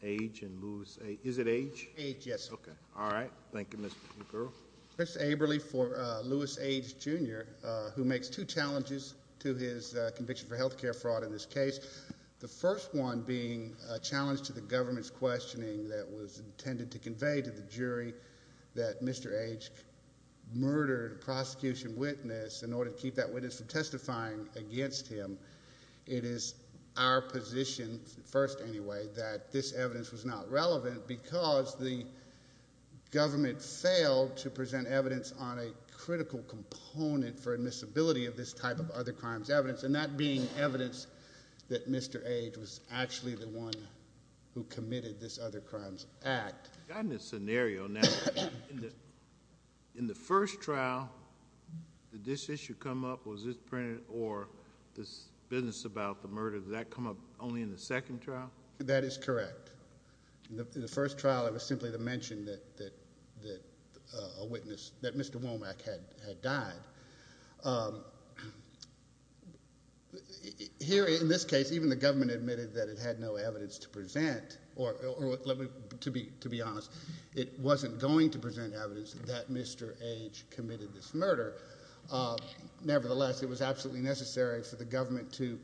and Lewis Age. Is it Age? Age, yes. Okay, all right. Thank you, Mr. McGurk. Mr. Aberly for Lewis Age Jr., who makes two challenges to his conviction for health care fraud in this case. The first one being a challenge to the government's questioning that was intended to convey to the jury that Mr. Age murdered a prosecution witness in order to keep that witness from committing this other crime. The second challenge was that the evidence was not relevant because the government failed to present evidence on a critical component for admissibility of this type of other crimes evidence, and that being evidence that Mr. Age was actually the one who committed this other crimes act. In this scenario, now, in the first trial, did this issue come up? Was this printed? Or this business about the murder, did that come up only in the second trial? That is correct. The first trial, it was simply to mention that a witness, that Mr. Womack had died. Here, in this case, even the government admitted that it had no evidence to present, or to be honest, it wasn't going to present evidence that Mr. Age committed this murder. Nevertheless, it was absolutely necessary for the government to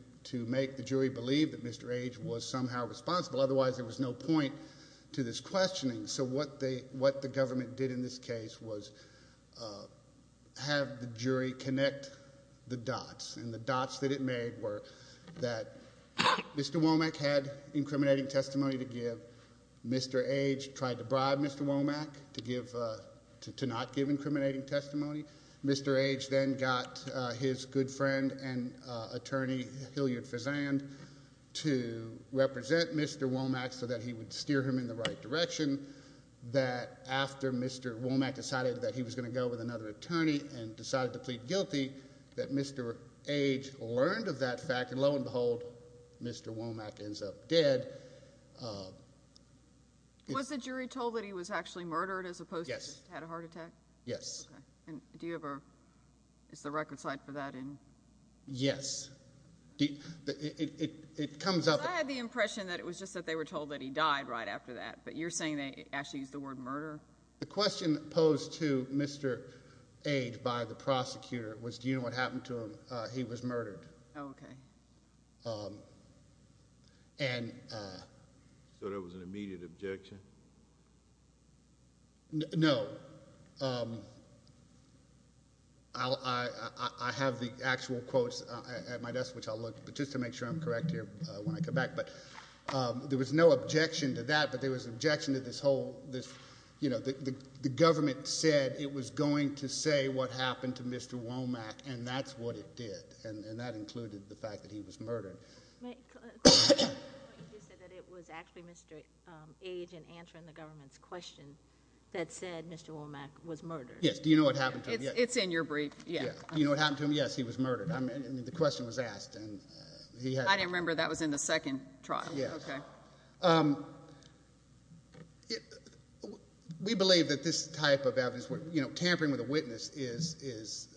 make the jury believe that Mr. Age was somehow responsible. Otherwise, there was no point to this questioning. So what the government did in this case was have the jury connect the dots, and the dots that it made were that Mr. Womack had incriminating testimony to give. Mr. Age tried to bribe Mr. Womack to not give incriminating testimony. Mr. Age then got his good friend and attorney, Hilliard Fezzand, to represent Mr. Womack so that he would steer him in the right direction. That after Mr. Womack decided that he was going to go with another attorney and decided to plead guilty, that Mr. Age learned of that fact, and lo and behold, Mr. Womack ends up dead. Was the jury told that he was actually murdered as opposed to had a heart attack? Yes. And do you ever, is the record site for that in? Yes. It comes up. I had the impression that it was just that they were told that he died right after that, but you're saying they actually used the word murder? The question posed to Mr. Age by the prosecutor was, do you know what happened to him? He was murdered. Okay. So there was an immediate objection? No. I have the actual quotes at my desk, which I'll look, but just to make sure I'm correct here when I come back, but there was no objection to that, but there was an objection to this whole, this, you know, the government said it was going to say what happened to Mr. Womack, and that's what it did, and that included the fact that he was murdered. You said that it was actually Mr. Age in answering the government's question that said Mr. Womack was murdered. Yes. Do you know what happened to him? It's in your brief. Yeah. You know what happened to him? Yes, he was murdered. I mean, the question was asked. I didn't remember that was in the second trial. Yes. Okay. We believe that this is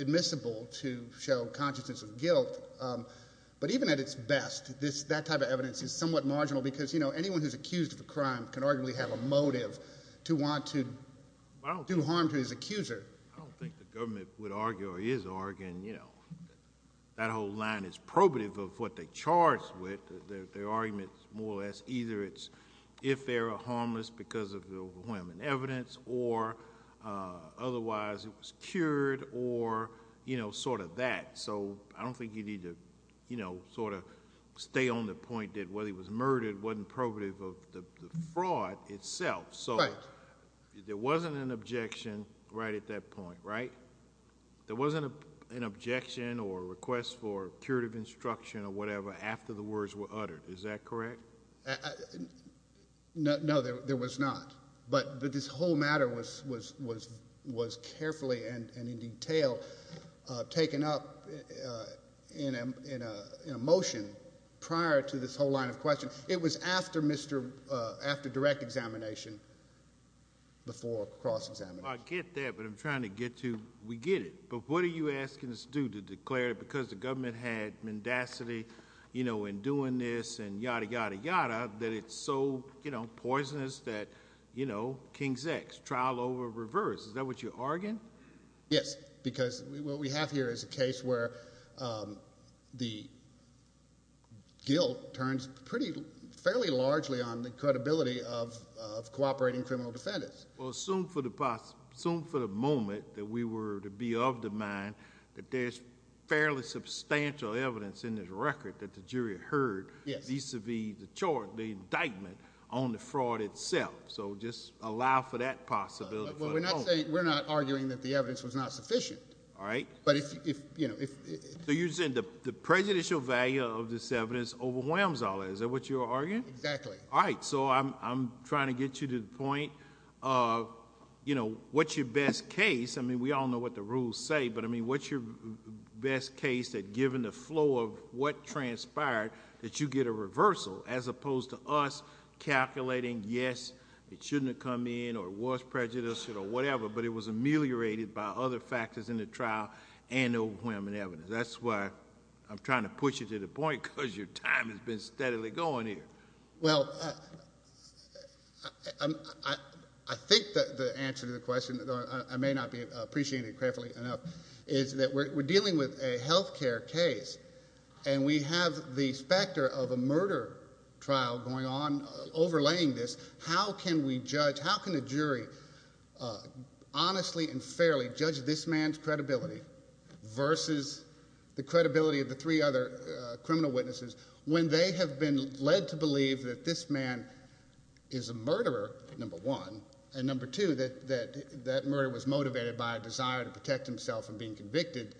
admissible to show consciousness of guilt, but even at its best, this, that type of evidence is somewhat marginal because, you know, anyone who's accused of a crime can arguably have a motive to want to do harm to his accuser. I don't think the government would argue or is arguing, you know, that whole line is probative of what they charged with. Their argument's more or less either it's if they were harmless because of the overwhelming evidence or otherwise it was cured or, you know, sort of that. So I don't think you need to, you know, sort of stay on the point that whether he was murdered wasn't probative of the fraud itself. Right. So there wasn't an objection right at that point, right? There wasn't an objection or request for curative instruction or whatever after the words were uttered. Is that correct? No, there was not. But this whole matter was carefully and in detail taken up in a motion prior to this whole line of questions. It was after direct examination before cross-examination. I get that, but I'm trying to you know, in doing this and yada, yada, yada, that it's so, you know, poisonous that, you know, King's X, trial over reverse. Is that what you're arguing? Yes, because what we have here is a case where the guilt turns pretty fairly largely on the credibility of cooperating criminal defendants. Well, assume for the moment that we were to be of the mind that there's fairly substantial evidence in this record that the jury heard vis-a-vis the indictment on the fraud itself. So just allow for that possibility for the moment. We're not arguing that the evidence was not sufficient. All right. But if, you know, if... So you're saying the prejudicial value of this evidence overwhelms all that. Is that what you're arguing? Exactly. All right. So I'm trying to get you to the point of, you know, what's your best case? I mean, we all know what the rules say, but I mean, what's your best case that given the flow of what transpired that you get a reversal as opposed to us calculating, yes, it shouldn't have come in or was prejudiced or whatever, but it was ameliorated by other factors in the trial and overwhelming evidence. That's why I'm trying to put you to the point because your time has been steadily going here. Well, I think that the answer to the question, though I may not be appreciating it carefully enough, is that we're dealing with a health care case and we have the specter of a murder trial going on overlaying this. How can we judge, how can a jury honestly and fairly judge this man's credibility versus the credibility of the three other criminal witnesses when they have been led to believe that this man is a murderer, number one, and number two, that that murder was motivated by a desire to protect himself from being convicted?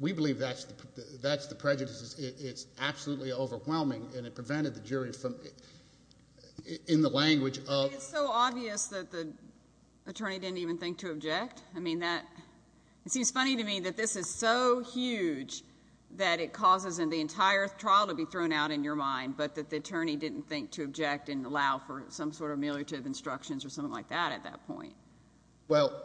We believe that's the prejudice. It's absolutely overwhelming and it prevented the jury from, in the language of. It's so obvious that the attorney didn't even think to object. I mean, that it seems funny to me that this is so in your mind, but that the attorney didn't think to object and allow for some sort of ameliorative instructions or something like that at that point. Well,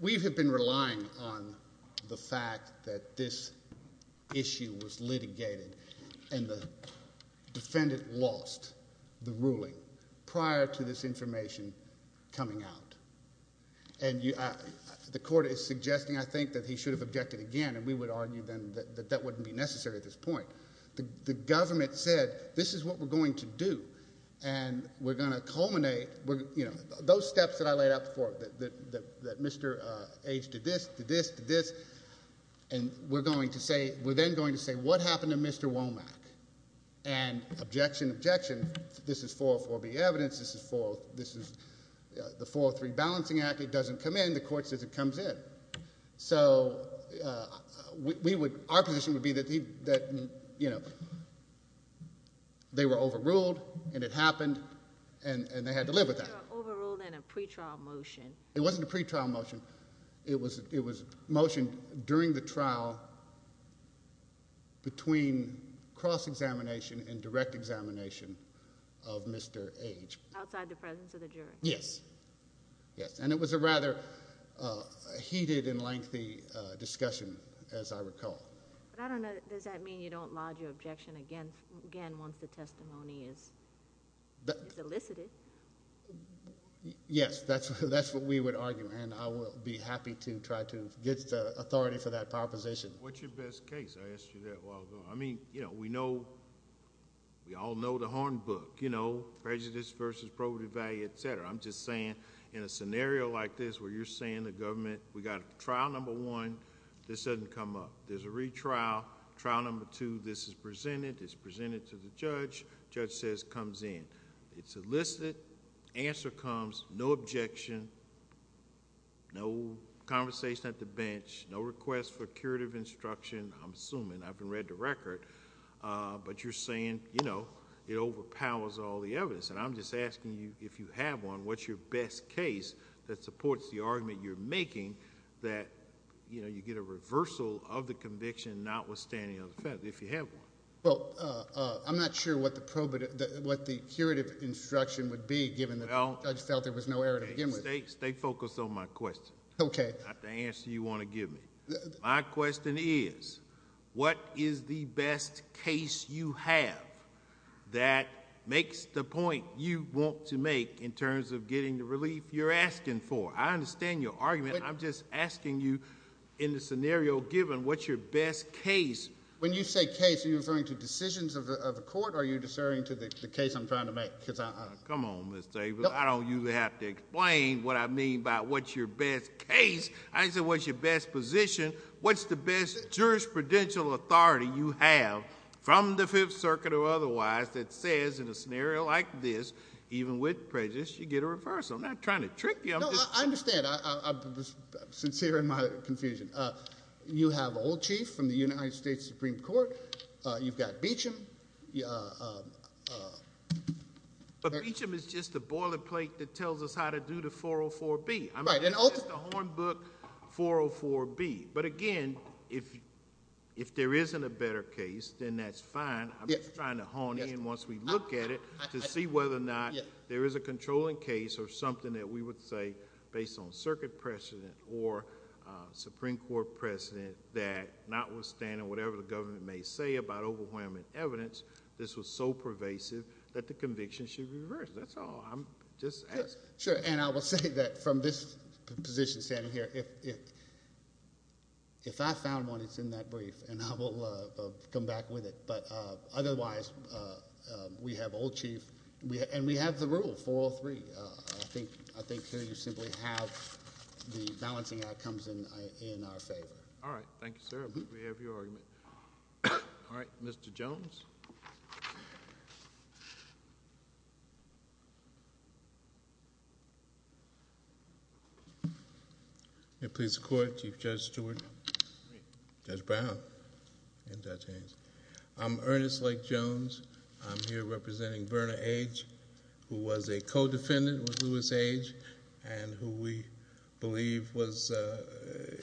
we have been relying on the fact that this issue was litigated and the defendant lost the ruling prior to this information coming out. And the court is suggesting, I think, that he should have objected again and we would argue then that that wouldn't be necessary at this point. The government said, this is what we're going to do and we're going to culminate, we're, you know, those steps that I laid out before, that Mr. H did this, did this, did this, and we're going to say, we're then going to say, what happened to Mr. Womack? And objection, objection, this is 404B evidence, this is the 403 balancing act, it doesn't come in, the court says it comes in. So we would, our position would be that he, that, you know, they were overruled and it happened and they had to live with that. Overruled in a pre-trial motion. It wasn't a pre-trial motion, it was, it was motioned during the trial between cross-examination and direct examination of Mr. H. Outside the presence of the jury. Yes, and it was a rather heated and lengthy discussion as I recall. But I don't know, does that mean you don't lodge your objection again once the testimony is elicited? Yes, that's what we would argue and I will be happy to try to get the authority for that proposition. What's your best case? I asked you that a while ago. I mean, you know, we know, we all know the horn book, you know, prejudice versus probative value, etc. I'm just saying in a scenario like this where you're saying the government, we got trial number one, this doesn't come up. There's a retrial, trial number two, this is presented, it's presented to the judge, judge says it comes in. It's elicited, answer comes, no objection, no conversation at the bench, no request for curative instruction, I'm assuming, I haven't read the record, but you're saying, you know, it overpowers all the evidence. And I'm just asking you, if you have one, what's your best case that supports the argument you're making that, you know, you get a reversal of the conviction notwithstanding the offense, if you have one? Well, I'm not sure what the probative, what the curative instruction would be given that the judge felt there was no error to begin with. Stay focused on my question. Okay. Not the answer you want to give me. My question is, what is the best case you have that makes the point you want to make in terms of getting the relief you're asking for? I understand your argument. I'm just asking you in the scenario given, what's your best case? When you say case, are you referring to decisions of the court or are you referring to the case I'm trying to make? Because I... Come on, Mr. Abrams. I don't usually have to explain what I mean by what's your best case. I just said, what's your best position? What's the best jurisprudential authority you have from the Fifth Circuit or otherwise that says in a scenario like this, even with prejudice, you get a reversal. I'm not trying to trick you. No, I understand. I'm sincere in my confusion. You have Old Chief from the United States Supreme Court. You've got Beecham. But Beecham is just a boilerplate that tells us how to do the 404B. It's just a hornbook 404B. But again, if there isn't a better case, then that's fine. I'm just trying to hone in once we look at it to see whether or not there is a controlling case or something that we would say based on circuit precedent or Supreme Court precedent that notwithstanding whatever the government may say about overwhelming evidence, this was so pervasive that the conviction should reverse. That's all. I'm just asking. Sure. And I will say that from this position standing here, if I found one, it's in that brief, and I will come back with it. But otherwise, we have Old Chief. And we have the rule, 403. I think here you simply have the balancing act comes in our favor. All right. Thank you, sir. We have your argument. All right. Mr. Jones. May it please the Court, Chief Judge Stewart, Judge Brown, and Judge Haynes. I'm Ernest Lake Jones. I'm here representing Verna Age, who was a co-defendant with Louis Age and who we believe was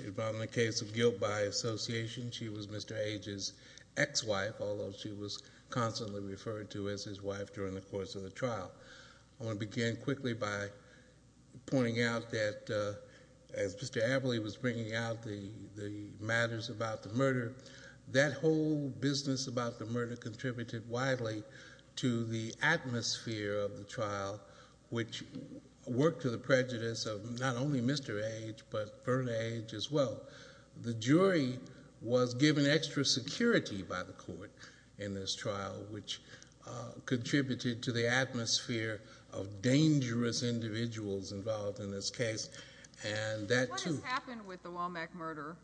involved in the case of guilt by association. She was Mr. Age's ex-wife, although she was constantly referred to as his wife during the course of the trial. I want to begin quickly by pointing out that as Mr. Averly was bringing out the matters about the murder, that whole business about the murder contributed widely to the atmosphere of the trial, which worked to the prejudice of not only Mr. Age, but Verna Age as well. The jury was given extra security by court in this trial, which contributed to the atmosphere of dangerous individuals involved in this case. And that too... What has happened with the Womack murder?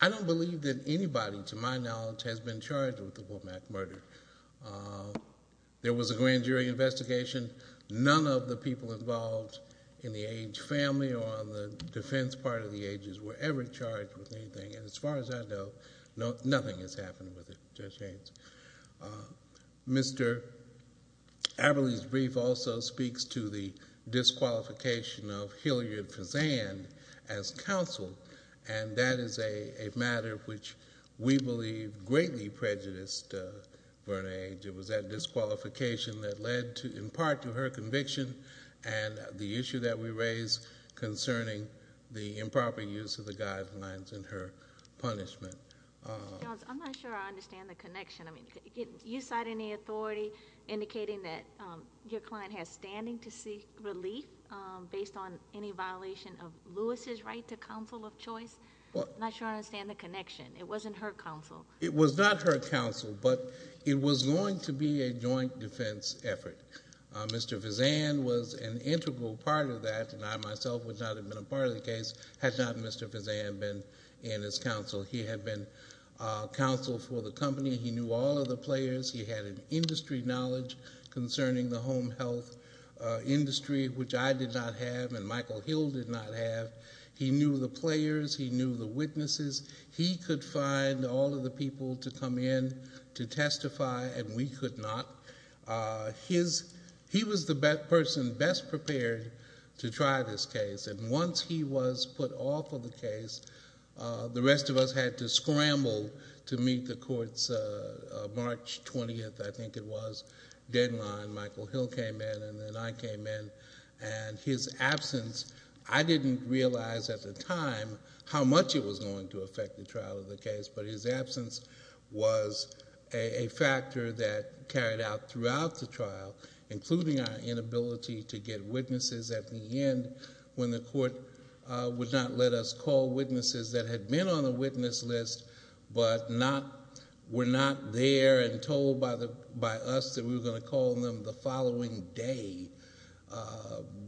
I don't believe that anybody, to my knowledge, has been charged with the Womack murder. There was a grand jury investigation. None of the people involved in the Age family or on the defense part of the Age's were ever charged with anything. And as far as I know, nothing has happened with it, Judge Haynes. Mr. Averly's brief also speaks to the disqualification of Hilliard Fezzan as counsel. And that is a matter which we believe greatly prejudiced Verna Age. It was that disqualification that led in part to her conviction and the issue that we have today. I'm not sure I understand the connection. I mean, you cite any authority indicating that your client has standing to seek relief based on any violation of Lewis's right to counsel of choice. I'm not sure I understand the connection. It wasn't her counsel. It was not her counsel, but it was going to be a joint defense effort. Mr. Fezzan was an integral part of that, and I myself would not have been a part of the case had not Mr. Fezzan been in his counsel. He had been counsel for the company. He knew all of the players. He had an industry knowledge concerning the home health industry, which I did not have, and Michael Hill did not have. He knew the players. He knew the witnesses. He could find all of the people to come in to testify, and we could not. He was the person best prepared to try this case, and once he was put off of the case, the rest of us had to scramble to meet the court's March 20th, I think it was, deadline. Michael Hill came in, and then I came in, and his absence, I didn't realize at the time how much it was going to affect the trial of the case, but his absence was a factor that carried out throughout the trial, including our inability to get witnesses at the end when the court would not let us call witnesses that had been on the witness list but were not there and told by us that we were going to call them the following day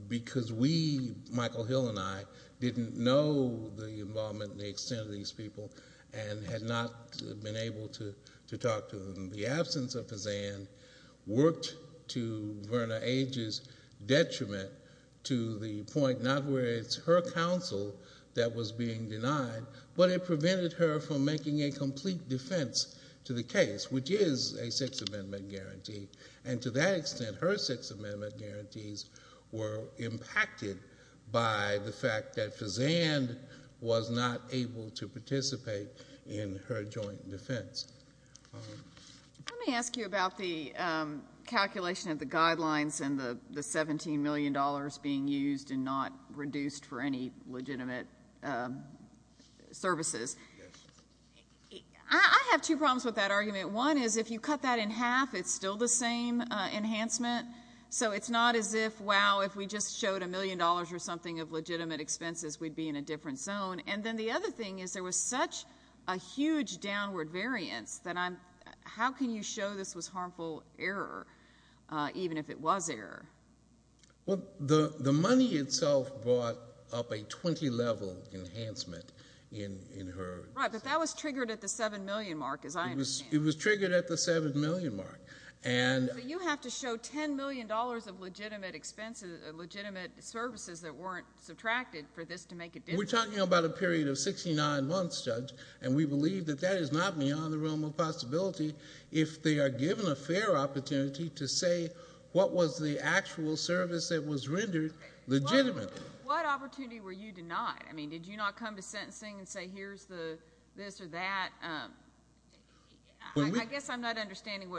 because we, Michael Hill and I, didn't know the involvement and the extent of these people and had not been able to talk to them. The absence of Fezzan worked to Verna Age's detriment to the point not where it's her counsel that was being denied, but it prevented her from making a complete defense to the case, which is a Sixth Amendment guarantee, and to that extent, her Sixth Amendment guarantees were impacted by the fact that Fezzan was not able to participate in her joint defense. Let me ask you about the calculation of the guidelines and the $17 million being used and not reduced for any legitimate services. I have two problems with that argument. One is if you cut that in half, it's still the same enhancement, so it's not as if, wow, if we just showed a million dollars or something of legitimate expenses, we'd be in a different zone. And then the other thing is there was such a huge downward variance that I'm, how can you show this was harmful error even if it was error? Well, the money itself brought up a level enhancement in her. Right, but that was triggered at the $7 million mark, as I understand. It was triggered at the $7 million mark. So you have to show $10 million of legitimate expenses, legitimate services that weren't subtracted for this to make a difference. We're talking about a period of 69 months, Judge, and we believe that that is not beyond the realm of possibility if they are given a fair opportunity to say what was the actual service that was rendered legitimately. What opportunity were you denied? I mean, did you not come to sentencing and say, here's the this or that? I guess I'm not understanding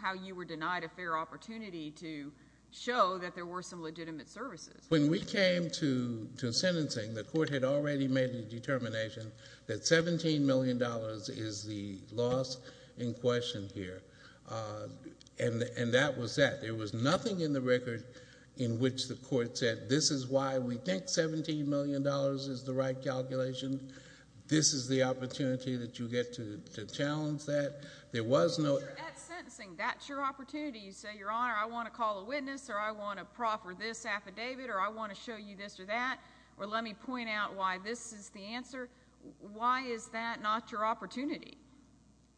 how you were denied a fair opportunity to show that there were some legitimate services. When we came to sentencing, the court had already made the determination that $17 million is the loss in question here. And that was that. There was nothing in the record in which the court said, this is why we think $17 million is the right calculation. This is the opportunity that you get to challenge that. There was no... At sentencing, that's your opportunity. You say, Your Honor, I want to call a witness, or I want to proffer this affidavit, or I want to show you this or that, or let me point out why this is the answer. Why is that not your opportunity?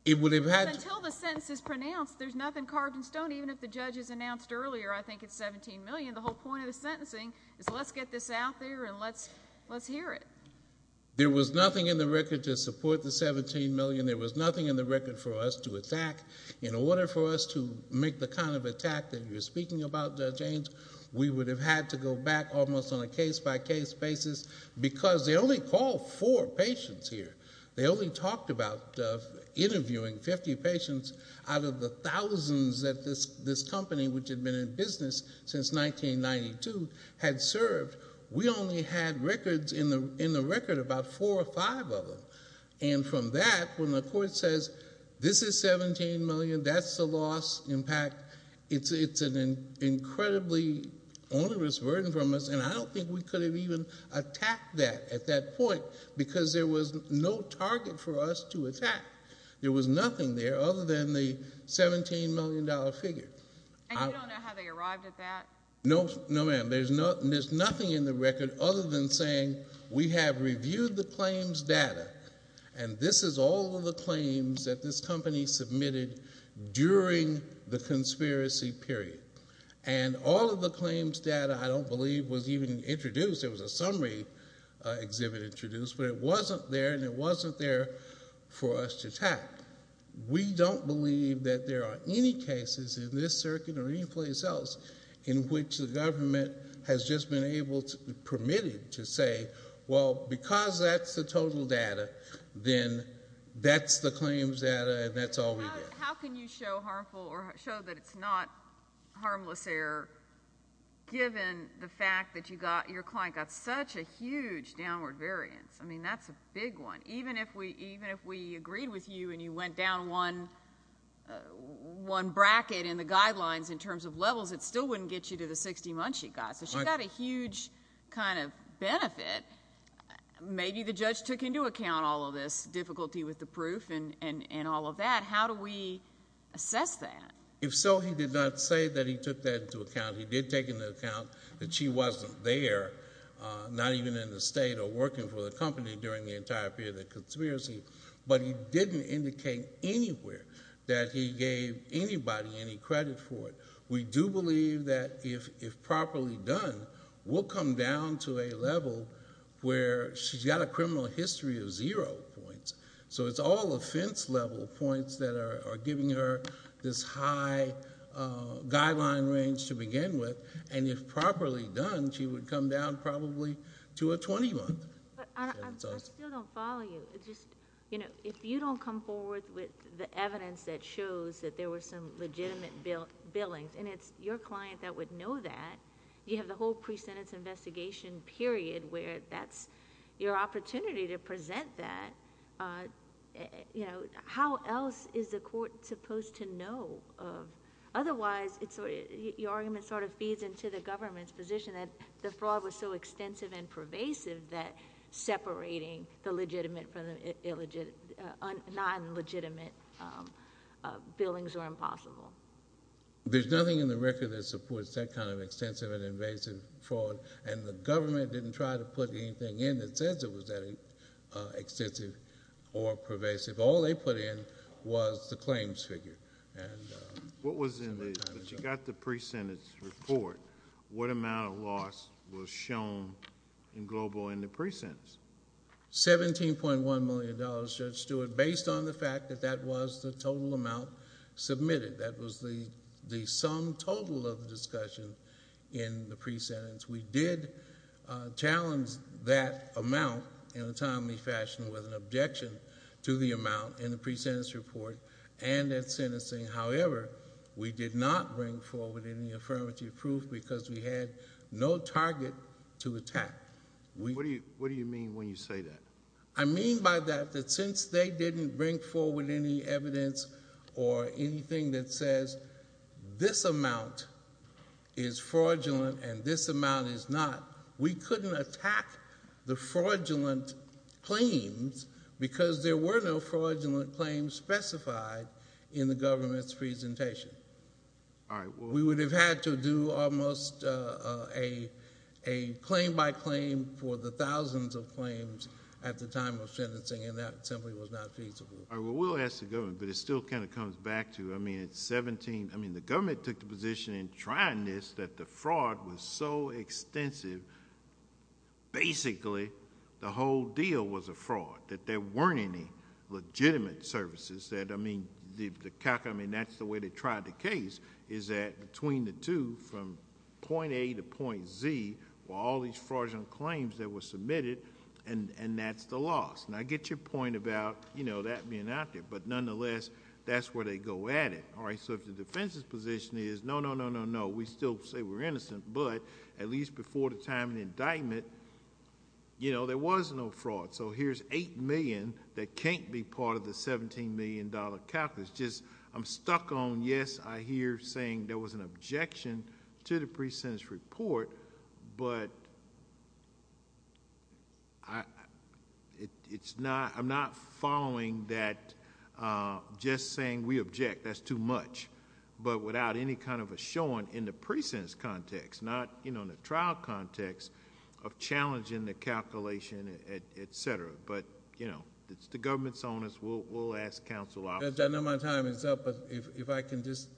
It would have had... Until the sentence is pronounced, there's nothing carved in stone. Even if the judge has announced earlier, I think it's $17 million, the whole point of the sentencing is let's get this out there and let's hear it. There was nothing in the record to support the $17 million. There was nothing in the record for us to attack. In order for us to make the kind of attack that you're speaking about, Judge James, we would have had to go back almost on a case-by-case basis because they only called four patients here. They only talked about interviewing 50 patients out of the thousands that this company, which had been in business since 1992, had served. We only had records in the record about four or five of them. From that, when the court says, this is $17 million, that's the loss impact, it's an incredibly onerous burden from us. I don't think we could have even attacked that at that point because there was no target for us to attack. There was nothing there other than the $17 million figure. You don't know how they arrived at that? No, ma'am. There's nothing in the record other than saying we have reviewed the claims data, and this is all of the claims that this company submitted during the conspiracy period. All of the claims data, I don't believe, was even introduced. There was a summary exhibit introduced, but it wasn't there, and it wasn't there for us to attack. We don't believe that there are any cases in this circuit or any place else in which the government has just been permitted to say, well, because that's the total data, then that's the claims data, and that's all we did. How can you show that it's not harmless error given the fact that your client got such a huge downward variance? That's a big one. Even if we agreed with you and you went down one bracket in the guidelines in terms of levels, it still wouldn't get you to the 60 months you got, so she got a huge benefit. Maybe the judge took into account all of this difficulty with the assessment. If so, he did not say that he took that into account. He did take into account that she wasn't there, not even in the state or working for the company during the entire period of the conspiracy, but he didn't indicate anywhere that he gave anybody any credit for it. We do believe that if properly done, we'll come down to a level where she's got a criminal history of zero points. It's all offense-level points that are giving her this high guideline range to begin with. If properly done, she would come down probably to a 20-month. I still don't follow you. If you don't come forward with the evidence that shows that there were some legitimate billings, and it's your client that would know that, you have the whole pre-sentence investigation period where that's your opportunity to present that. How else is the court supposed to know of? Otherwise, your argument sort of feeds into the government's position that the fraud was so extensive and pervasive that separating the legitimate from the non-legitimate billings were impossible. There's nothing in the record that supports that kind of extensive and pervasive. The government didn't try to put anything in that says it was that extensive or pervasive. All they put in was the claims figure. But you got the pre-sentence report. What amount of loss was shown in global in the pre-sentence? $17.1 million, Judge Stewart, based on the fact that that was the total amount submitted. That was the sum total of the discussion in the pre-sentence. We did challenge that amount in a timely fashion with an objection to the amount in the pre-sentence report and at sentencing. However, we did not bring forward any affirmative proof because we had no target to attack. What do you mean when you say that? I mean by that that since they didn't bring forward any evidence or anything that says this amount is fraudulent and this amount is not, we couldn't attack the fraudulent claims because there were no fraudulent claims specified in the government's presentation. We would have had to do almost a claim by claim for the thousands of claims at the time of sentencing and that simply was not feasible. We'll ask the government, but it still kind of comes back to, I mean it's 17, I mean the government took the position in trying this that the fraud was so extensive, basically the whole deal was a fraud. That there weren't any legitimate services that, I mean, that's the way they tried the case is that between the two from point A to point Z were all these fraudulent claims that were submitted and that's the loss. Now I get your point about, you know, that being out there, but nonetheless that's where they go at it. All right, so if the defense's position is no, no, no, no, no, we still say we're innocent, but at least before the time of the indictment, you know, there was no fraud. So here's 8 million that can't be part of the 17 million dollar calculus. Just I'm stuck on yes, I hear saying there was an objection to the pre-sentence report, but I, it's not, I'm not following that just saying we object, that's too much, but without any kind of a showing in the pre-sentence context, not, you know, in the trial context of challenging the calculation, et cetera. But, you know, it's the government's on us, we'll ask counsel. I know my time is up, but if I can just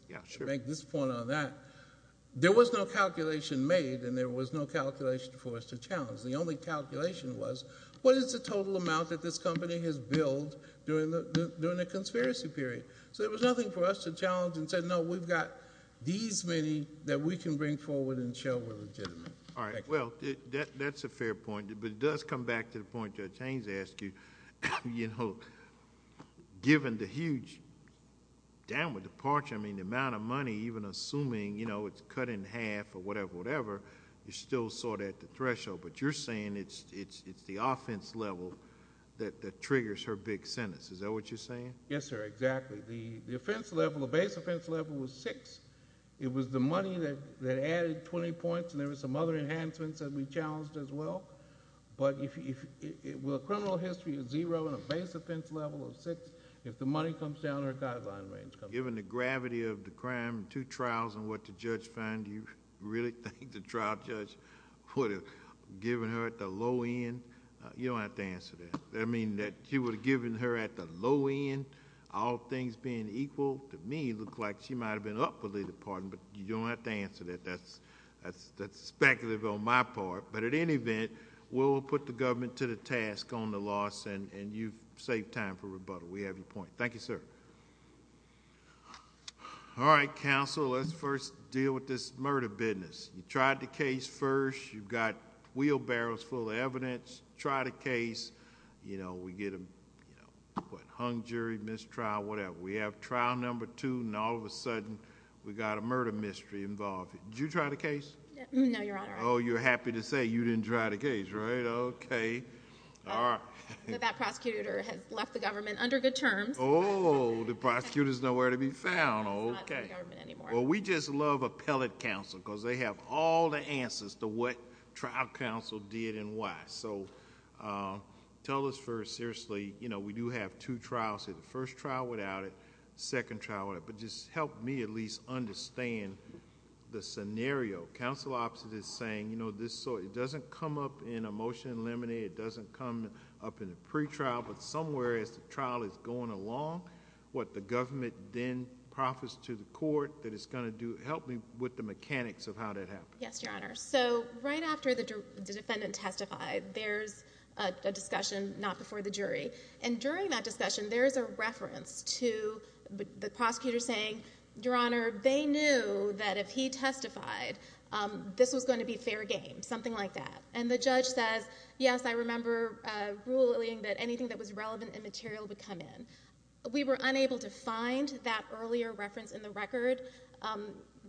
make this point on that, there was no calculation made and there was no calculation for us to challenge. The only calculation was, what is the total amount that this company has billed during the, during the conspiracy period? So there was nothing for us to challenge and say, no, we've got these many that we can bring forward and show we're legitimate. All right, well, that's a fair point, but it does come back to the point Judge Haynes asked you, you know, given the huge downward departure, I mean, the amount of money, even assuming, you know, it's cut in half or whatever, whatever, you're still sort of at the threshold, but you're saying it's, it's, it's the offense level that, that triggers her big sentence, is that what you're saying? Yes, sir, exactly. The offense level, the base offense level was six. It was the money that, that added 20 points and there was some other enhancements that we challenged as well, but if, if, with a criminal history of zero and a base offense level of six, if the money comes down, her guideline range comes down. Given the gravity of the crime, two trials and what the judge find, do you really think the trial judge would have given her at the low end? You don't have to answer that. I mean, that she would have given her at the low end, all things being equal, to me, it looked like she might have been up for the pardon, but you don't have to answer that. That's, that's, that's speculative on my part, but at any event, we'll put the government to the task on the loss and, and you've saved time for rebuttal. We have your point. Thank you, sir. All right, counsel, let's first deal with this murder business. You tried the case first, you've got wheelbarrows full of evidence, try the case, you know, we get a, you know, what, hung jury, mistrial, whatever. We have trial number two and all of a sudden, we got a murder mystery involved. Did you try the case? No, your honor. Oh, you're happy to say you didn't try the case, right? Okay. All right. That prosecutor has left the government under good terms. Oh, the prosecutor is nowhere to be found. Okay. Well, we just love appellate counsel because they have all the answers to what trial counsel did and why. So, tell us first, seriously, you know, what happened in the trial, second trial, whatever, but just help me at least understand the scenario. Counsel opposite is saying, you know, this, so it doesn't come up in a motion and limited, it doesn't come up in a pretrial, but somewhere as the trial is going along, what the government then profits to the court that it's going to do, help me with the mechanics of how that happened. Yes, your honor. So, right after the defendant testified, there's a discussion, not before the jury. And during that discussion, there's a reference to the prosecutor saying, your honor, they knew that if he testified, this was going to be fair game, something like that. And the judge says, yes, I remember ruling that anything that was relevant and material would come in. We were unable to find that earlier reference in the record,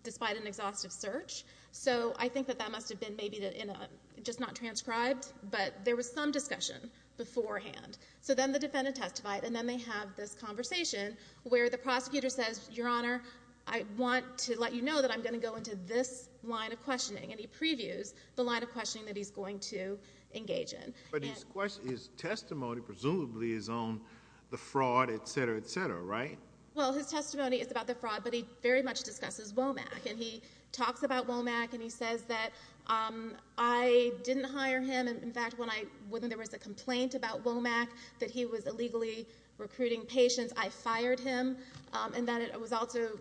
despite an exhaustive search. So, I think that that must have been maybe in a, just not transcribed, but there was some discussion beforehand. So, then the defendant testified, and then they have this conversation where the prosecutor says, your honor, I want to let you know that I'm going to go into this line of questioning. And he previews the line of questioning that he's going to engage in. But his testimony presumably is on the fraud, et cetera, et cetera, right? Well, his testimony is about the fraud, but he very much discusses Womack. And he didn't hire him. In fact, when there was a complaint about Womack, that he was illegally recruiting patients, I fired him. And then it also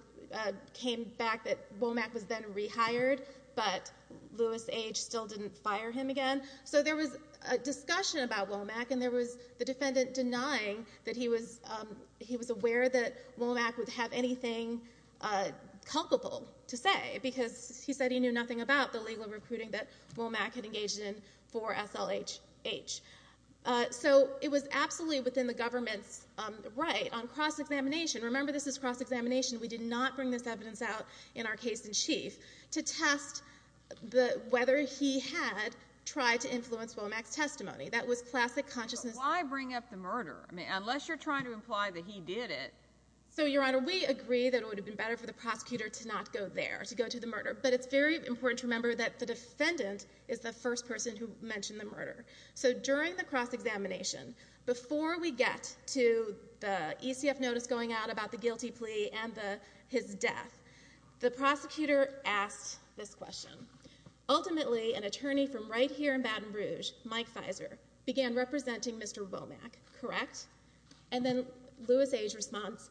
came back that Womack was then rehired, but Lewis H. still didn't fire him again. So, there was a discussion about Womack, and there was the defendant denying that he was aware that Womack would have anything culpable to say because he said he knew nothing about the legal recruiting that Womack had engaged in for SLHH. So, it was absolutely within the government's right on cross-examination. Remember, this is cross-examination. We did not bring this evidence out in our case in chief to test whether he had tried to influence Womack's testimony. That was classic consciousness. Why bring up the murder? I mean, unless you're trying to imply that he did it. So, Your Honor, we agree that it would have been better for the prosecutor to not go there, to go to the murder. But it's very important to remember that the defendant is the first person who mentioned the murder. So, during the cross-examination, before we get to the ECF notice going out about the guilty plea and his death, the prosecutor asked this question. Ultimately, an attorney from right here in Baton Rouge, Mike Fizer, began representing Mr. Womack, correct? And then, Louis A's response,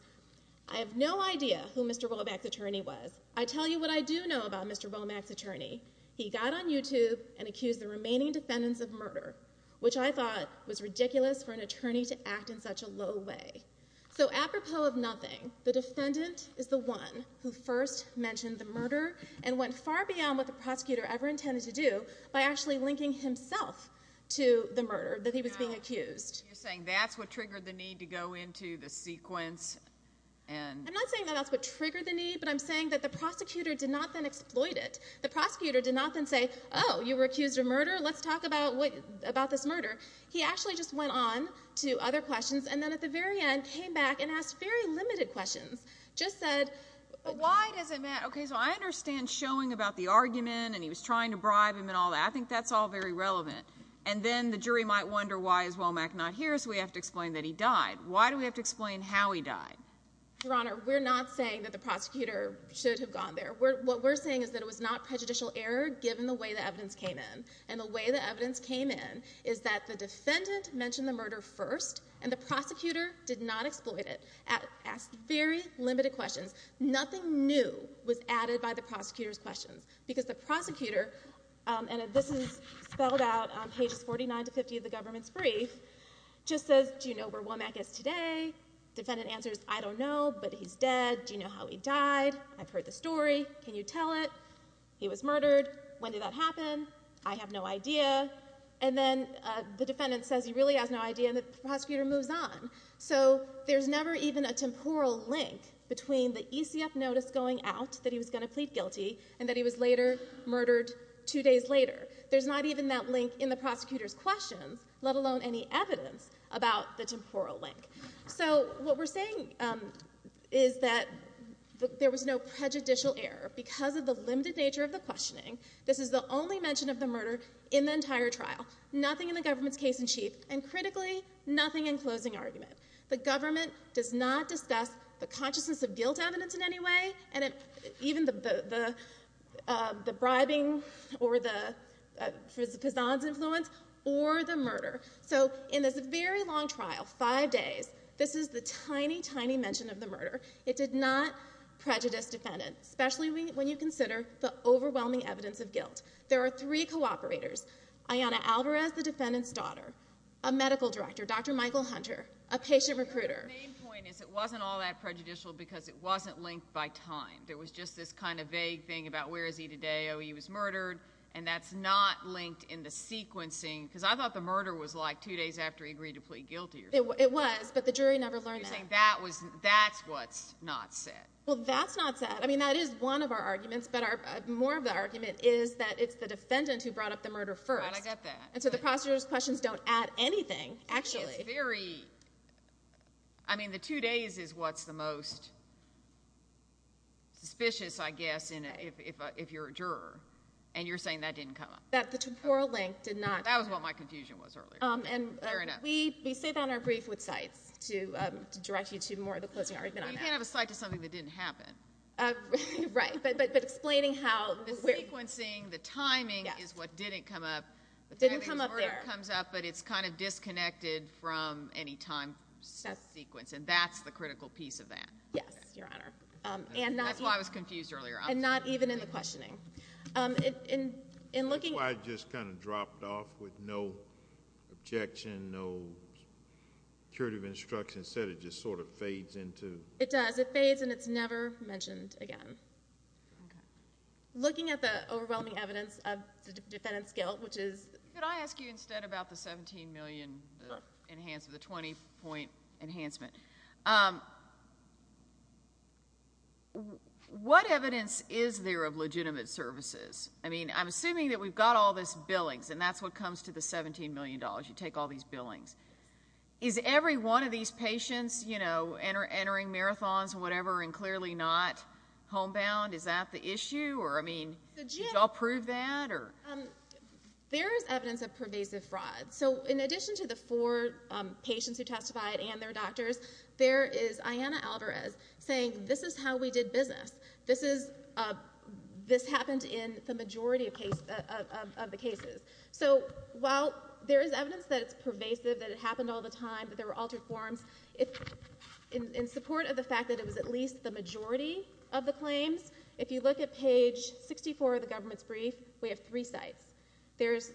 I have no idea who Mr. Womack's attorney was. I tell you what I do know about Mr. Womack's attorney. He got on YouTube and accused the remaining defendants of murder, which I thought was ridiculous for an attorney to act in such a low way. So, apropos of nothing, the defendant is the one who first mentioned the murder and went far beyond what the prosecutor ever intended to do by actually linking himself to the murder that he was being accused. You're saying that's what triggered the need to go into the sequence and... I'm not saying that that's what triggered the need, but I'm saying that the prosecutor did not then exploit it. The prosecutor did not then say, oh, you were accused of murder, let's talk about this murder. He actually just went on to other questions and then, at the very end, came back and asked very limited questions. Just said... Why does it matter? Okay, so I understand showing about the argument and he was trying to bribe him and all that. I think that's all very relevant. And then the jury might wonder, why is Womack not here? So we have to explain that he died. Why do we have to explain how he died? Your Honor, we're not saying that the prosecutor should have gone there. What we're saying is that it was not prejudicial error, given the way the evidence came in. And the way the evidence came in is that the defendant mentioned the murder first and the prosecutor did not exploit it, asked very limited questions. Nothing new was added by the prosecutor's questions, because the prosecutor, and this is spelled out on pages 49 to 50 of the government's brief, just says, do you know where Womack is today? Defendant answers, I don't know, but he's dead. Do you know how he died? I've heard the story. Can you tell it? He was murdered. When did that happen? I have no idea. And then the defendant says he really has no idea and the prosecutor moves on. So there's never even a temporal link between the ECF notice going out that he was going to plead guilty and that he was later murdered two days later. There's not even that link in the prosecutor's questions, let alone any evidence about the temporal link. So what we're saying is that there was no prejudicial error because of the limited nature of the questioning. This is the only mention of the murder in the entire trial. Nothing in the government's case in chief, and critically, nothing in closing argument. The government does not discuss the consciousness of guilt evidence in any way, and even the bribing or the Pizan's influence, or the murder. So in this very long trial, five days, this is the tiny, tiny mention of the murder. It did not prejudice defendants, especially when you consider the overwhelming evidence of guilt. There are three cooperators, Ayanna Alvarez, the defendant's daughter, a medical director, Dr. Michael Hunter, a patient recruiter. The main point is it wasn't all that prejudicial because it wasn't linked by time. There was just this kind of vague thing about where is he today, oh he was murdered, and that's not linked in the sequencing. Because I thought the murder was like two days after he agreed to plead guilty. It was, but the jury never learned that. That's what's not said. Well that's not said. I mean that is one of our arguments, but more of the argument is that it's the defendant who brought up the murder first. I got that. And so the prosecutor's questions don't add anything, actually. It's very, I mean the two days is what's the most suspicious, I guess, if you're a juror, and you're saying that didn't come up. That the temporal link did not. That was what my confusion was earlier. And we say that on our brief with cites to direct you to more of the closing argument. You can't have a cite to something that didn't happen. Right, but explaining how. The sequencing, the timing is what didn't come up. Didn't come up there. But it's kind of disconnected from any time sequence, and that's the critical piece of that. Yes, Your Honor. And that's why I was confused earlier. And not even in the questioning. That's why I just kind of dropped off with no objection, no curative instruction. Instead it just sort of fades into. It does. It fades and it's never mentioned again. Okay. Looking at the overwhelming evidence of the defendant's guilt, which is. Can I ask you instead about the 17 million enhanced, the 20 point enhancement? What evidence is there of legitimate services? I mean, I'm assuming that we've got all this billings, and that's what comes to the 17 million dollars. You take all these billings. Is every one of these patients, you know, entering marathons and whatever and clearly not the issue? Or I mean, did you all prove that? There is evidence of pervasive fraud. So in addition to the four patients who testified and their doctors, there is Ayanna Alvarez saying, this is how we did business. This happened in the majority of the cases. So while there is evidence that it's pervasive, that it happened all the time, that there were altered forms, in support of the fact that it was at least the majority of the claims, if you look at page 64 of the government's brief, we have three sites. There's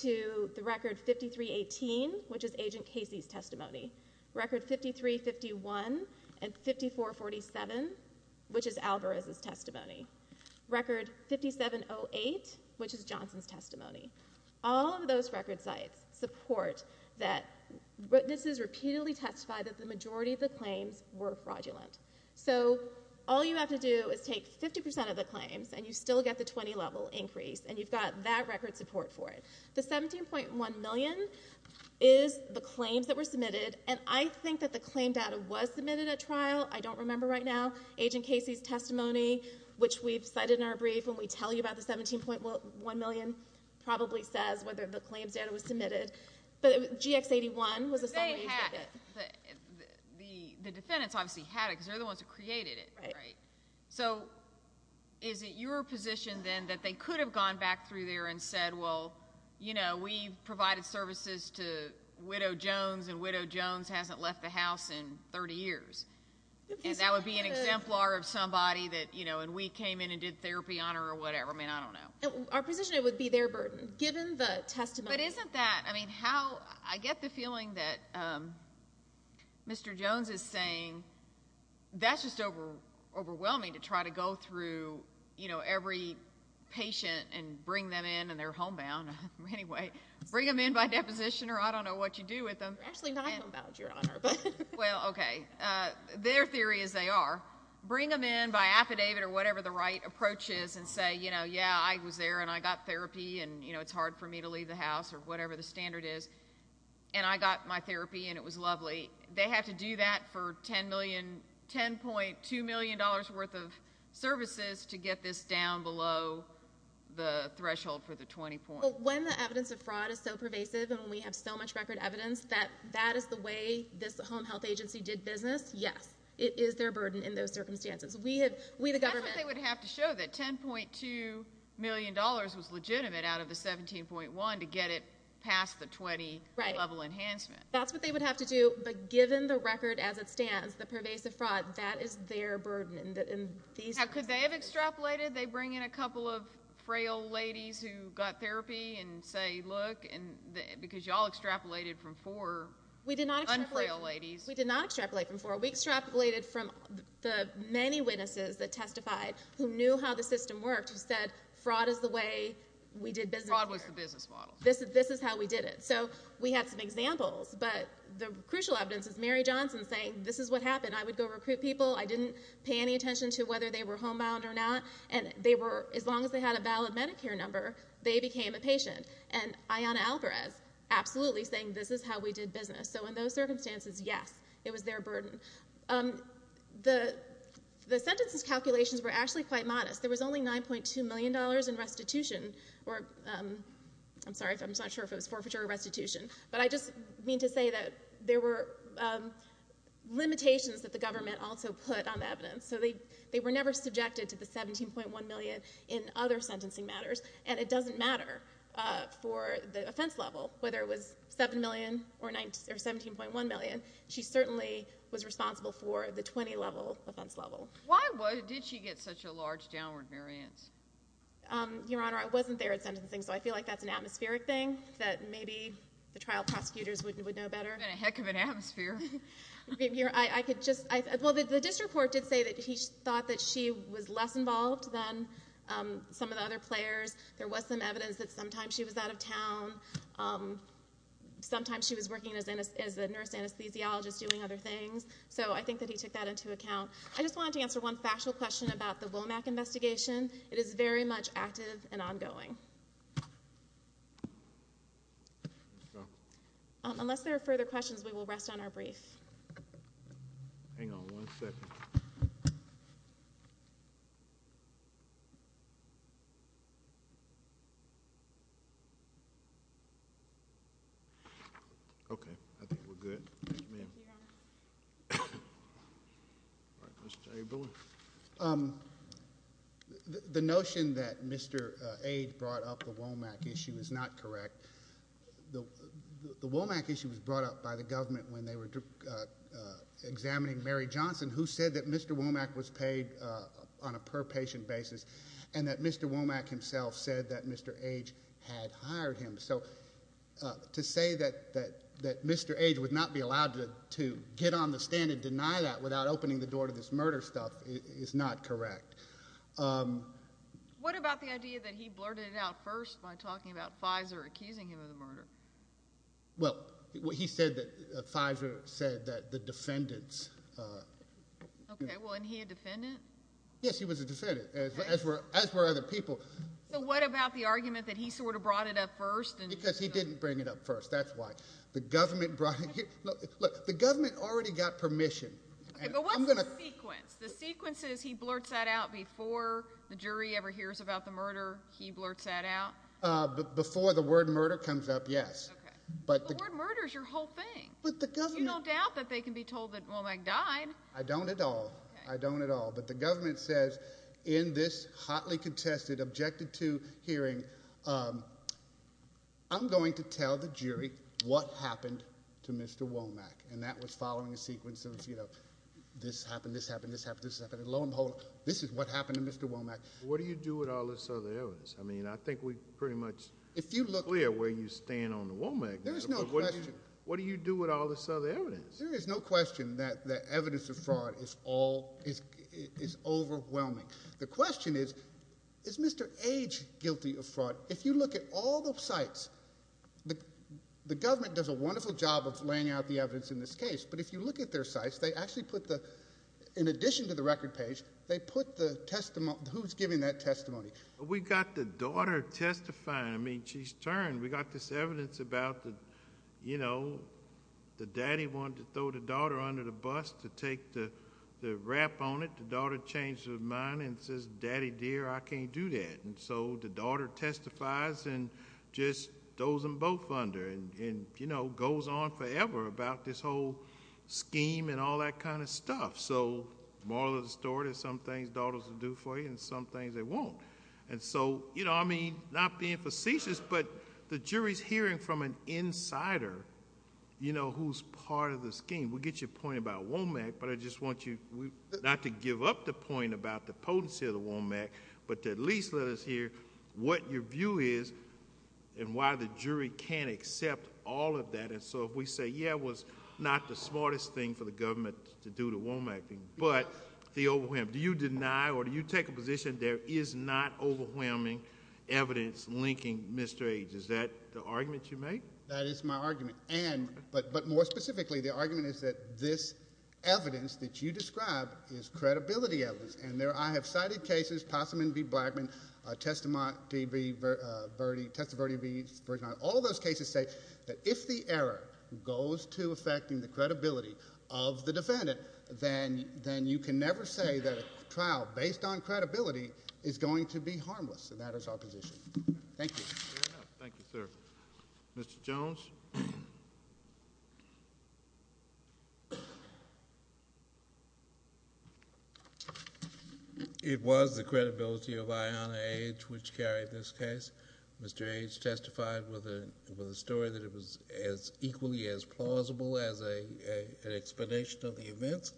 to the record 5318, which is Agent Casey's testimony. Record 5351 and 5447, which is Alvarez's testimony. Record 5708, which is Johnson's testimony. All of those record sites support that witnesses repeatedly testified that the majority of the claims were fraudulent. So all you have to do is take 50 percent of the claims and you still get the 20 level increase and you've got that record support for it. The 17.1 million is the claims that were submitted and I think that the claim data was submitted at trial. I don't remember right now. Agent Casey's testimony, which we've cited in our brief when we tell you about the 17.1 million, probably says whether the claims data was submitted. But GX81 was a summary. The defendants obviously had it because they're the ones who created it, right? So is it your position then that they could have gone back through there and said, well, you know, we've provided services to Widow Jones and Widow Jones hasn't left the house in 30 years. And that would be an exemplar of somebody that, you know, and we came in and did therapy on her or whatever. I mean, I don't know. Our position, it would be their burden given the testimony. But isn't that, I mean, how I get the feeling that Mr. Jones is saying that's just overwhelming to try to go through, you know, every patient and bring them in and they're homebound. Anyway, bring them in by deposition or I don't know what you do with them. Actually not homebound, Your Honor. Well, okay. Their theory is they are. Bring them in by affidavit or whatever the right approach is and say, you know, yeah, I was there and I got therapy and, you know, it's hard for me to leave the house or whatever the standard is. And I got my therapy and it was lovely. They have to do that for 10 million, 10.2 million dollars worth of services to get this down below the threshold for the 20 point. When the evidence of fraud is so pervasive and we have so much record evidence that that is the way this home health agency did business, yes, it is their burden in those circumstances. We had, the government. That's what they would have to show, that 10.2 million dollars was legitimate out of the 17.1 to get it past the 20 level enhancement. That's what they would have to do, but given the record as it stands, the pervasive fraud, that is their burden in these. Now, could they have extrapolated? They bring in a couple of frail ladies who got therapy and say, look, and because y'all extrapolated from four unfrail ladies. We did not extrapolate from four. We extrapolated from the many witnesses that testified, who knew how the system worked, who said fraud is the way we did business. Fraud was the business model. This is how we did it. So we had some examples, but the crucial evidence is Mary Johnson saying, this is what happened. I would go recruit people. I didn't pay any attention to whether they were homebound or not. And they were, as long as they had a valid Medicare number, they became a patient. And Ayanna Alvarez absolutely saying, this is how we did business. So in those circumstances, yes, it was their burden. The sentences calculations were actually quite modest. There was only $9.2 million in restitution or, I'm sorry, I'm not sure if it was forfeiture or restitution, but I just mean to say that there were limitations that the government also put on the evidence. So they were never subjected to the $17.1 million in other sentencing matters. And it doesn't matter for the offense level, whether it was $7 million or $17.1 million, she certainly was responsible for the 20-level offense level. Why did she get such a large downward variance? Your Honor, I wasn't there at sentencing, so I feel like that's an atmospheric thing that maybe the trial prosecutors would know better. It's been a heck of an atmosphere. Well, the district court did say that he thought that she was less involved than some of the other players. There was some evidence that sometimes she was out of town. Sometimes she was working as a nurse anesthesiologist doing other things. So I think that he took that into account. I just wanted to answer one factual question about the Womack investigation. It is very much active and ongoing. Unless there are further questions, we will rest on our brief. Okay. I think we're good. Thank you, ma'am. The notion that Mr. Ade brought up the Womack issue is not correct. The Womack issue was brought up by the government when they were examining Mary Johnson, who said that Mr. Womack was paid on a per-patient basis, and that Mr. Womack himself said that Mr. Ade had hired him. So to say that Mr. Ade would not be allowed to get on the stand and deny that without opening the door to this murder stuff is not correct. What about the idea that he blurted it out first by talking about Pfizer accusing him of the murder? Well, he said that Pfizer said that the defendants... Okay. Well, and he a defendant? Yes, he was a defendant, as were other people. So what about the argument that he sort of brought it up first? Because he didn't bring it up first. That's why. The government brought... The government already got permission. Okay, but what's the sequence? The sequence is he blurts that out before the jury ever hears about the murder? He blurts that out? Before the word murder comes up, yes. But the word murder is your whole thing. But the government... You don't doubt that they can be told that Womack died. I don't at all. I don't at all. But the government says, in this hotly contested, objected to hearing, I'm going to tell the jury what happened to Mr. Womack. And that was following a sequence of, you know, this happened, this happened, this happened, this happened. And lo and behold, this is what happened to Mr. Womack. What do you do with all this other evidence? I mean, I think we pretty much... If you look... Clear where you stand on the Womack matter. There's no question. What do you do with all this other evidence? There is no question that the evidence of fraud is overwhelming. The question is, is Mr. Age guilty of fraud? If you look at all the sites, the government does a wonderful job of laying out the evidence in this case. But if you look at their sites, they actually put the... In addition to the record page, they put the testimony... Who's giving that testimony? We got the daughter testifying. I mean, she's turned. We got this evidence about the, you know, the daddy wanted to throw the daughter under the bus to take the wrap on it. The daughter changed her mind and says, Daddy, dear, I can't do that. So, the daughter testifies and just throws them both under and, you know, goes on forever about this whole scheme and all that kind of stuff. So, moral of the story, there's some things daughters will do for you and some things they won't. And so, you know, I mean, not being facetious, but the jury's hearing from an insider, you know, who's part of the scheme. We get your point about Womack, but I just want you not to give up the point about the potency of the Womack, but at least let us hear what your view is and why the jury can't accept all of that. And so, if we say, yeah, it was not the smartest thing for the government to do the Womack thing, but the overwhelming... Do you deny or do you take a position there is not overwhelming evidence linking Mr. H? Is that the argument you make? That is my argument. And... But more specifically, the argument is that this evidence that you describe is credibility and I have cited cases, Possum v. Blackman, Testimony v. Verdi, all those cases say that if the error goes to affecting the credibility of the defendant, then you can never say that a trial based on credibility is going to be harmless. And that is our position. Thank you. Thank you, sir. Mr. Jones? It was the credibility of Iona Age which carried this case. Mr. Age testified with a story that it was equally as plausible as an explanation of the events.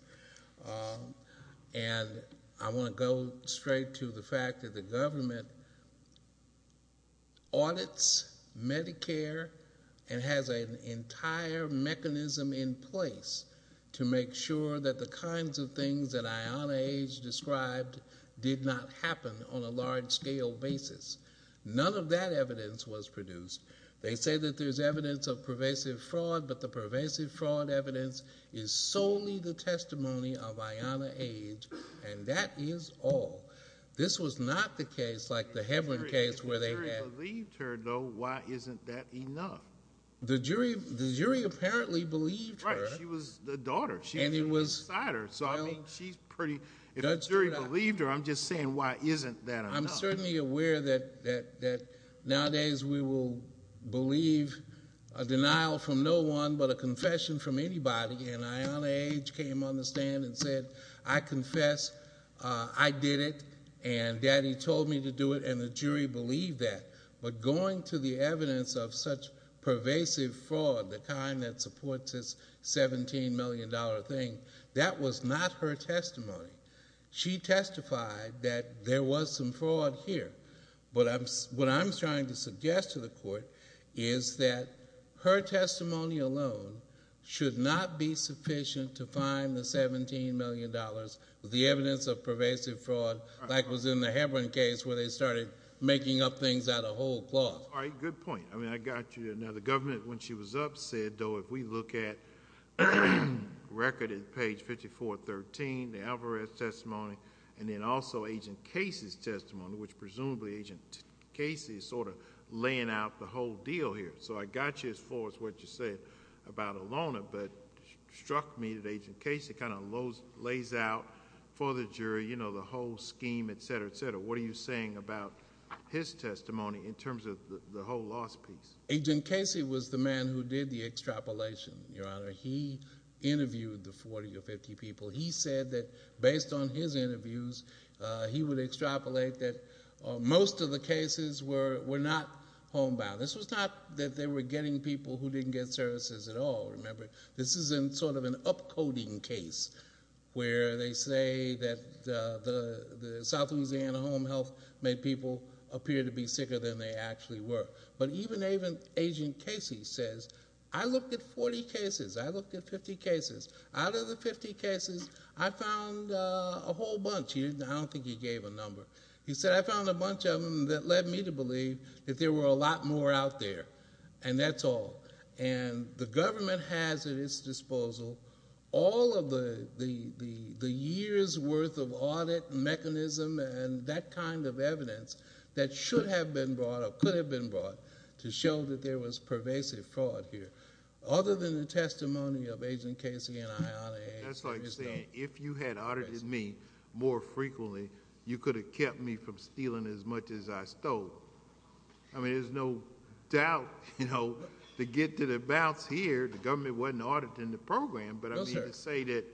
And I want to go straight to the fact that the government audits Medicare and has an entire mechanism in place to make sure that the kinds of things that Iona Age described did not happen on a large-scale basis. None of that evidence was produced. They say that there's evidence of pervasive fraud, but the pervasive fraud evidence is solely the testimony of Iona Age, and that is all. This was not the case like the Hebron case where they had... If the jury believed her, though, why isn't that enough? The jury apparently believed her. Right. She was the daughter. She was the decider. So, I mean, she's pretty... If the jury believed her, I'm just saying why isn't that enough? I'm certainly aware that nowadays we will believe a denial from no one but a confession from anybody, and Iona Age came on the stand and said, I confess, I did it, and Daddy told me to do it, and the jury believed that. But going to the evidence of such pervasive fraud, the kind that supports this $17 million thing, that was not her testimony. She testified that there was some fraud here. But what I'm trying to suggest to the court is that her testimony alone should not be sufficient to find the $17 million, the evidence of pervasive fraud, like was in the Hebron case where they started making up things out of whole cloth. All right. Good point. I mean, I got you there. Now, the government, when she was up, said, though, if we look at record at page 5413, the Alvarez testimony, and then also Agent Casey's testimony, which presumably Agent Casey is sort of laying out the whole deal here. So I got you as far as what you said about Iona, but it struck me that Agent Casey kind of lays out for the jury the whole scheme, et cetera, et cetera. What are you saying about his testimony in terms of the whole lost piece? Agent Casey was the man who did the extrapolation, Your Honor. He interviewed the 40 or 50 people. He said that based on his interviews, he would extrapolate that most of the cases were not homebound. This was not that they were getting people who didn't get services at all, remember? This isn't sort of an upcoding case where they say that the South Louisiana Home Health made people appear to be sicker than they actually were. But even Agent Casey says, I looked at 40 cases. I looked at 50 cases. Out of the 50 cases, I found a whole bunch. I don't think he gave a number. He said, I found a bunch of them that led me to believe that there were a lot more out there, and that's all. The government has at its disposal all of the year's worth of audit mechanism and that kind of evidence that should have been brought or could have been brought to show that there was pervasive fraud here. Other than the testimony of Agent Casey and Ion A. That's like saying, if you had audited me more frequently, you could have kept me from stealing as much as I stole. I mean, there's no doubt to get to the bouts here, the government wasn't auditing the program, but to say that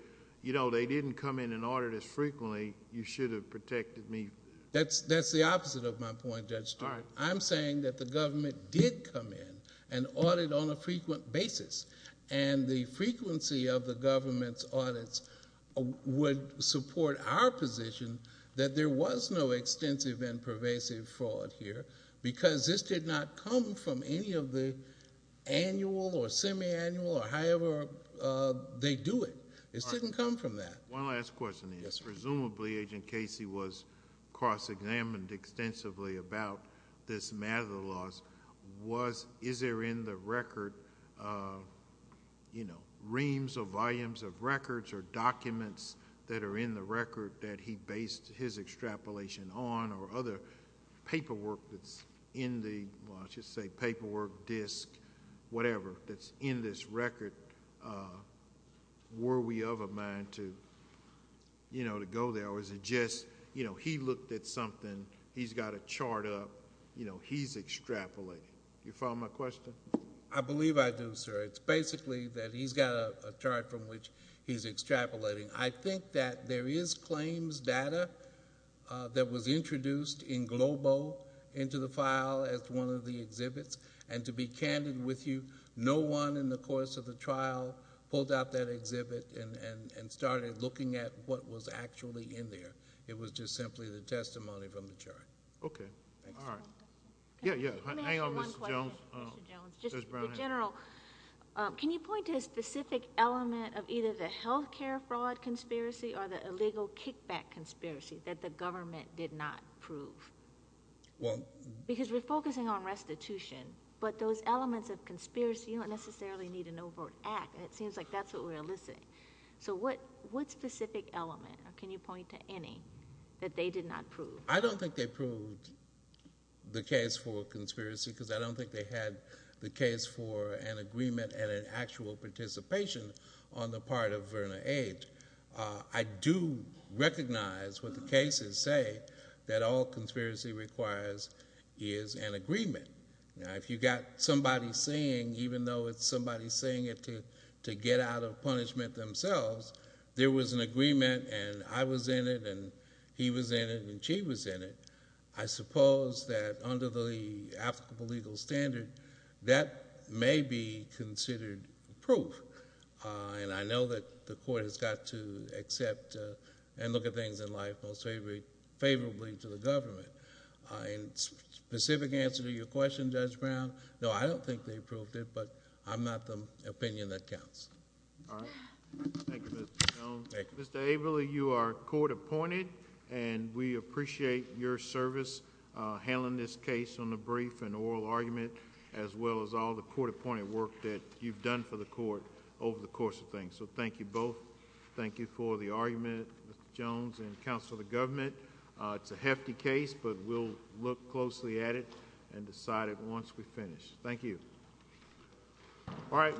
they didn't come in and audit as frequently, you should have protected me. That's the opposite of my point, Judge Stewart. I'm saying that the government did come in and audit on a frequent basis, and the frequency of the government's audits would support our position that there was no extensive and pervasive fraud here, because this did not come from any of the annual or semi-annual or however they do it. It didn't come from that. One last question, Agent. Presumably, Agent Casey was cross-examined extensively about this matter of the laws. Is there in the record reams or volumes of records or documents that are in the record that he based his extrapolation on or other paperwork that's in the... I should say paperwork, disc, whatever that's in this record, were we of a mind to go there, or was it just he looked at something, he's got a chart up, he's extrapolating? Do you follow my question? I believe I do, sir. It's basically that he's got a chart from which he's extrapolating. I think that there is claims data that was introduced in Globo into the file as one of the exhibits, and to be candid with you, no one in the course of the trial pulled out that exhibit and started looking at what was actually in there. It was just simply the testimony from the chart. Okay, all right. Yeah, yeah. Hang on, Mr. Jones. Just in general, can you point to a specific element of either the healthcare fraud conspiracy or the illegal kickback conspiracy that the government did not prove? Well... Because we're focusing on restitution, but those elements of conspiracy, you don't necessarily need an overt act, and it seems like that's what we're eliciting. What specific element, or can you point to any, that they did not prove? I don't think they proved the case for a conspiracy because I don't think they had the case for an agreement and an actual participation on the part of Verna Age. I do recognize what the cases say, that all conspiracy requires is an agreement. If you got somebody saying, even though it's somebody saying it to get out of punishment themselves, there was an agreement, and I was in it, and he was in it, and she was in it, I suppose that under the applicable legal standard, that may be considered proof. I know that the court has got to accept and look at things in life most favorably to the government. Specific answer to your question, Judge Brown? No, I don't think they proved it, but I'm not the opinion that counts. All right. Thank you, Mr. Jones. Mr. Averly, you are court-appointed, and we appreciate your service handling this case on the brief and oral argument, as well as all the court-appointed work that you've done for the court over the course of things. Thank you both. Thank you for the argument, Mr. Jones, and counsel of the government. It's a hefty case, but we'll look closely at it and decide it once we finish. Thank you. All right.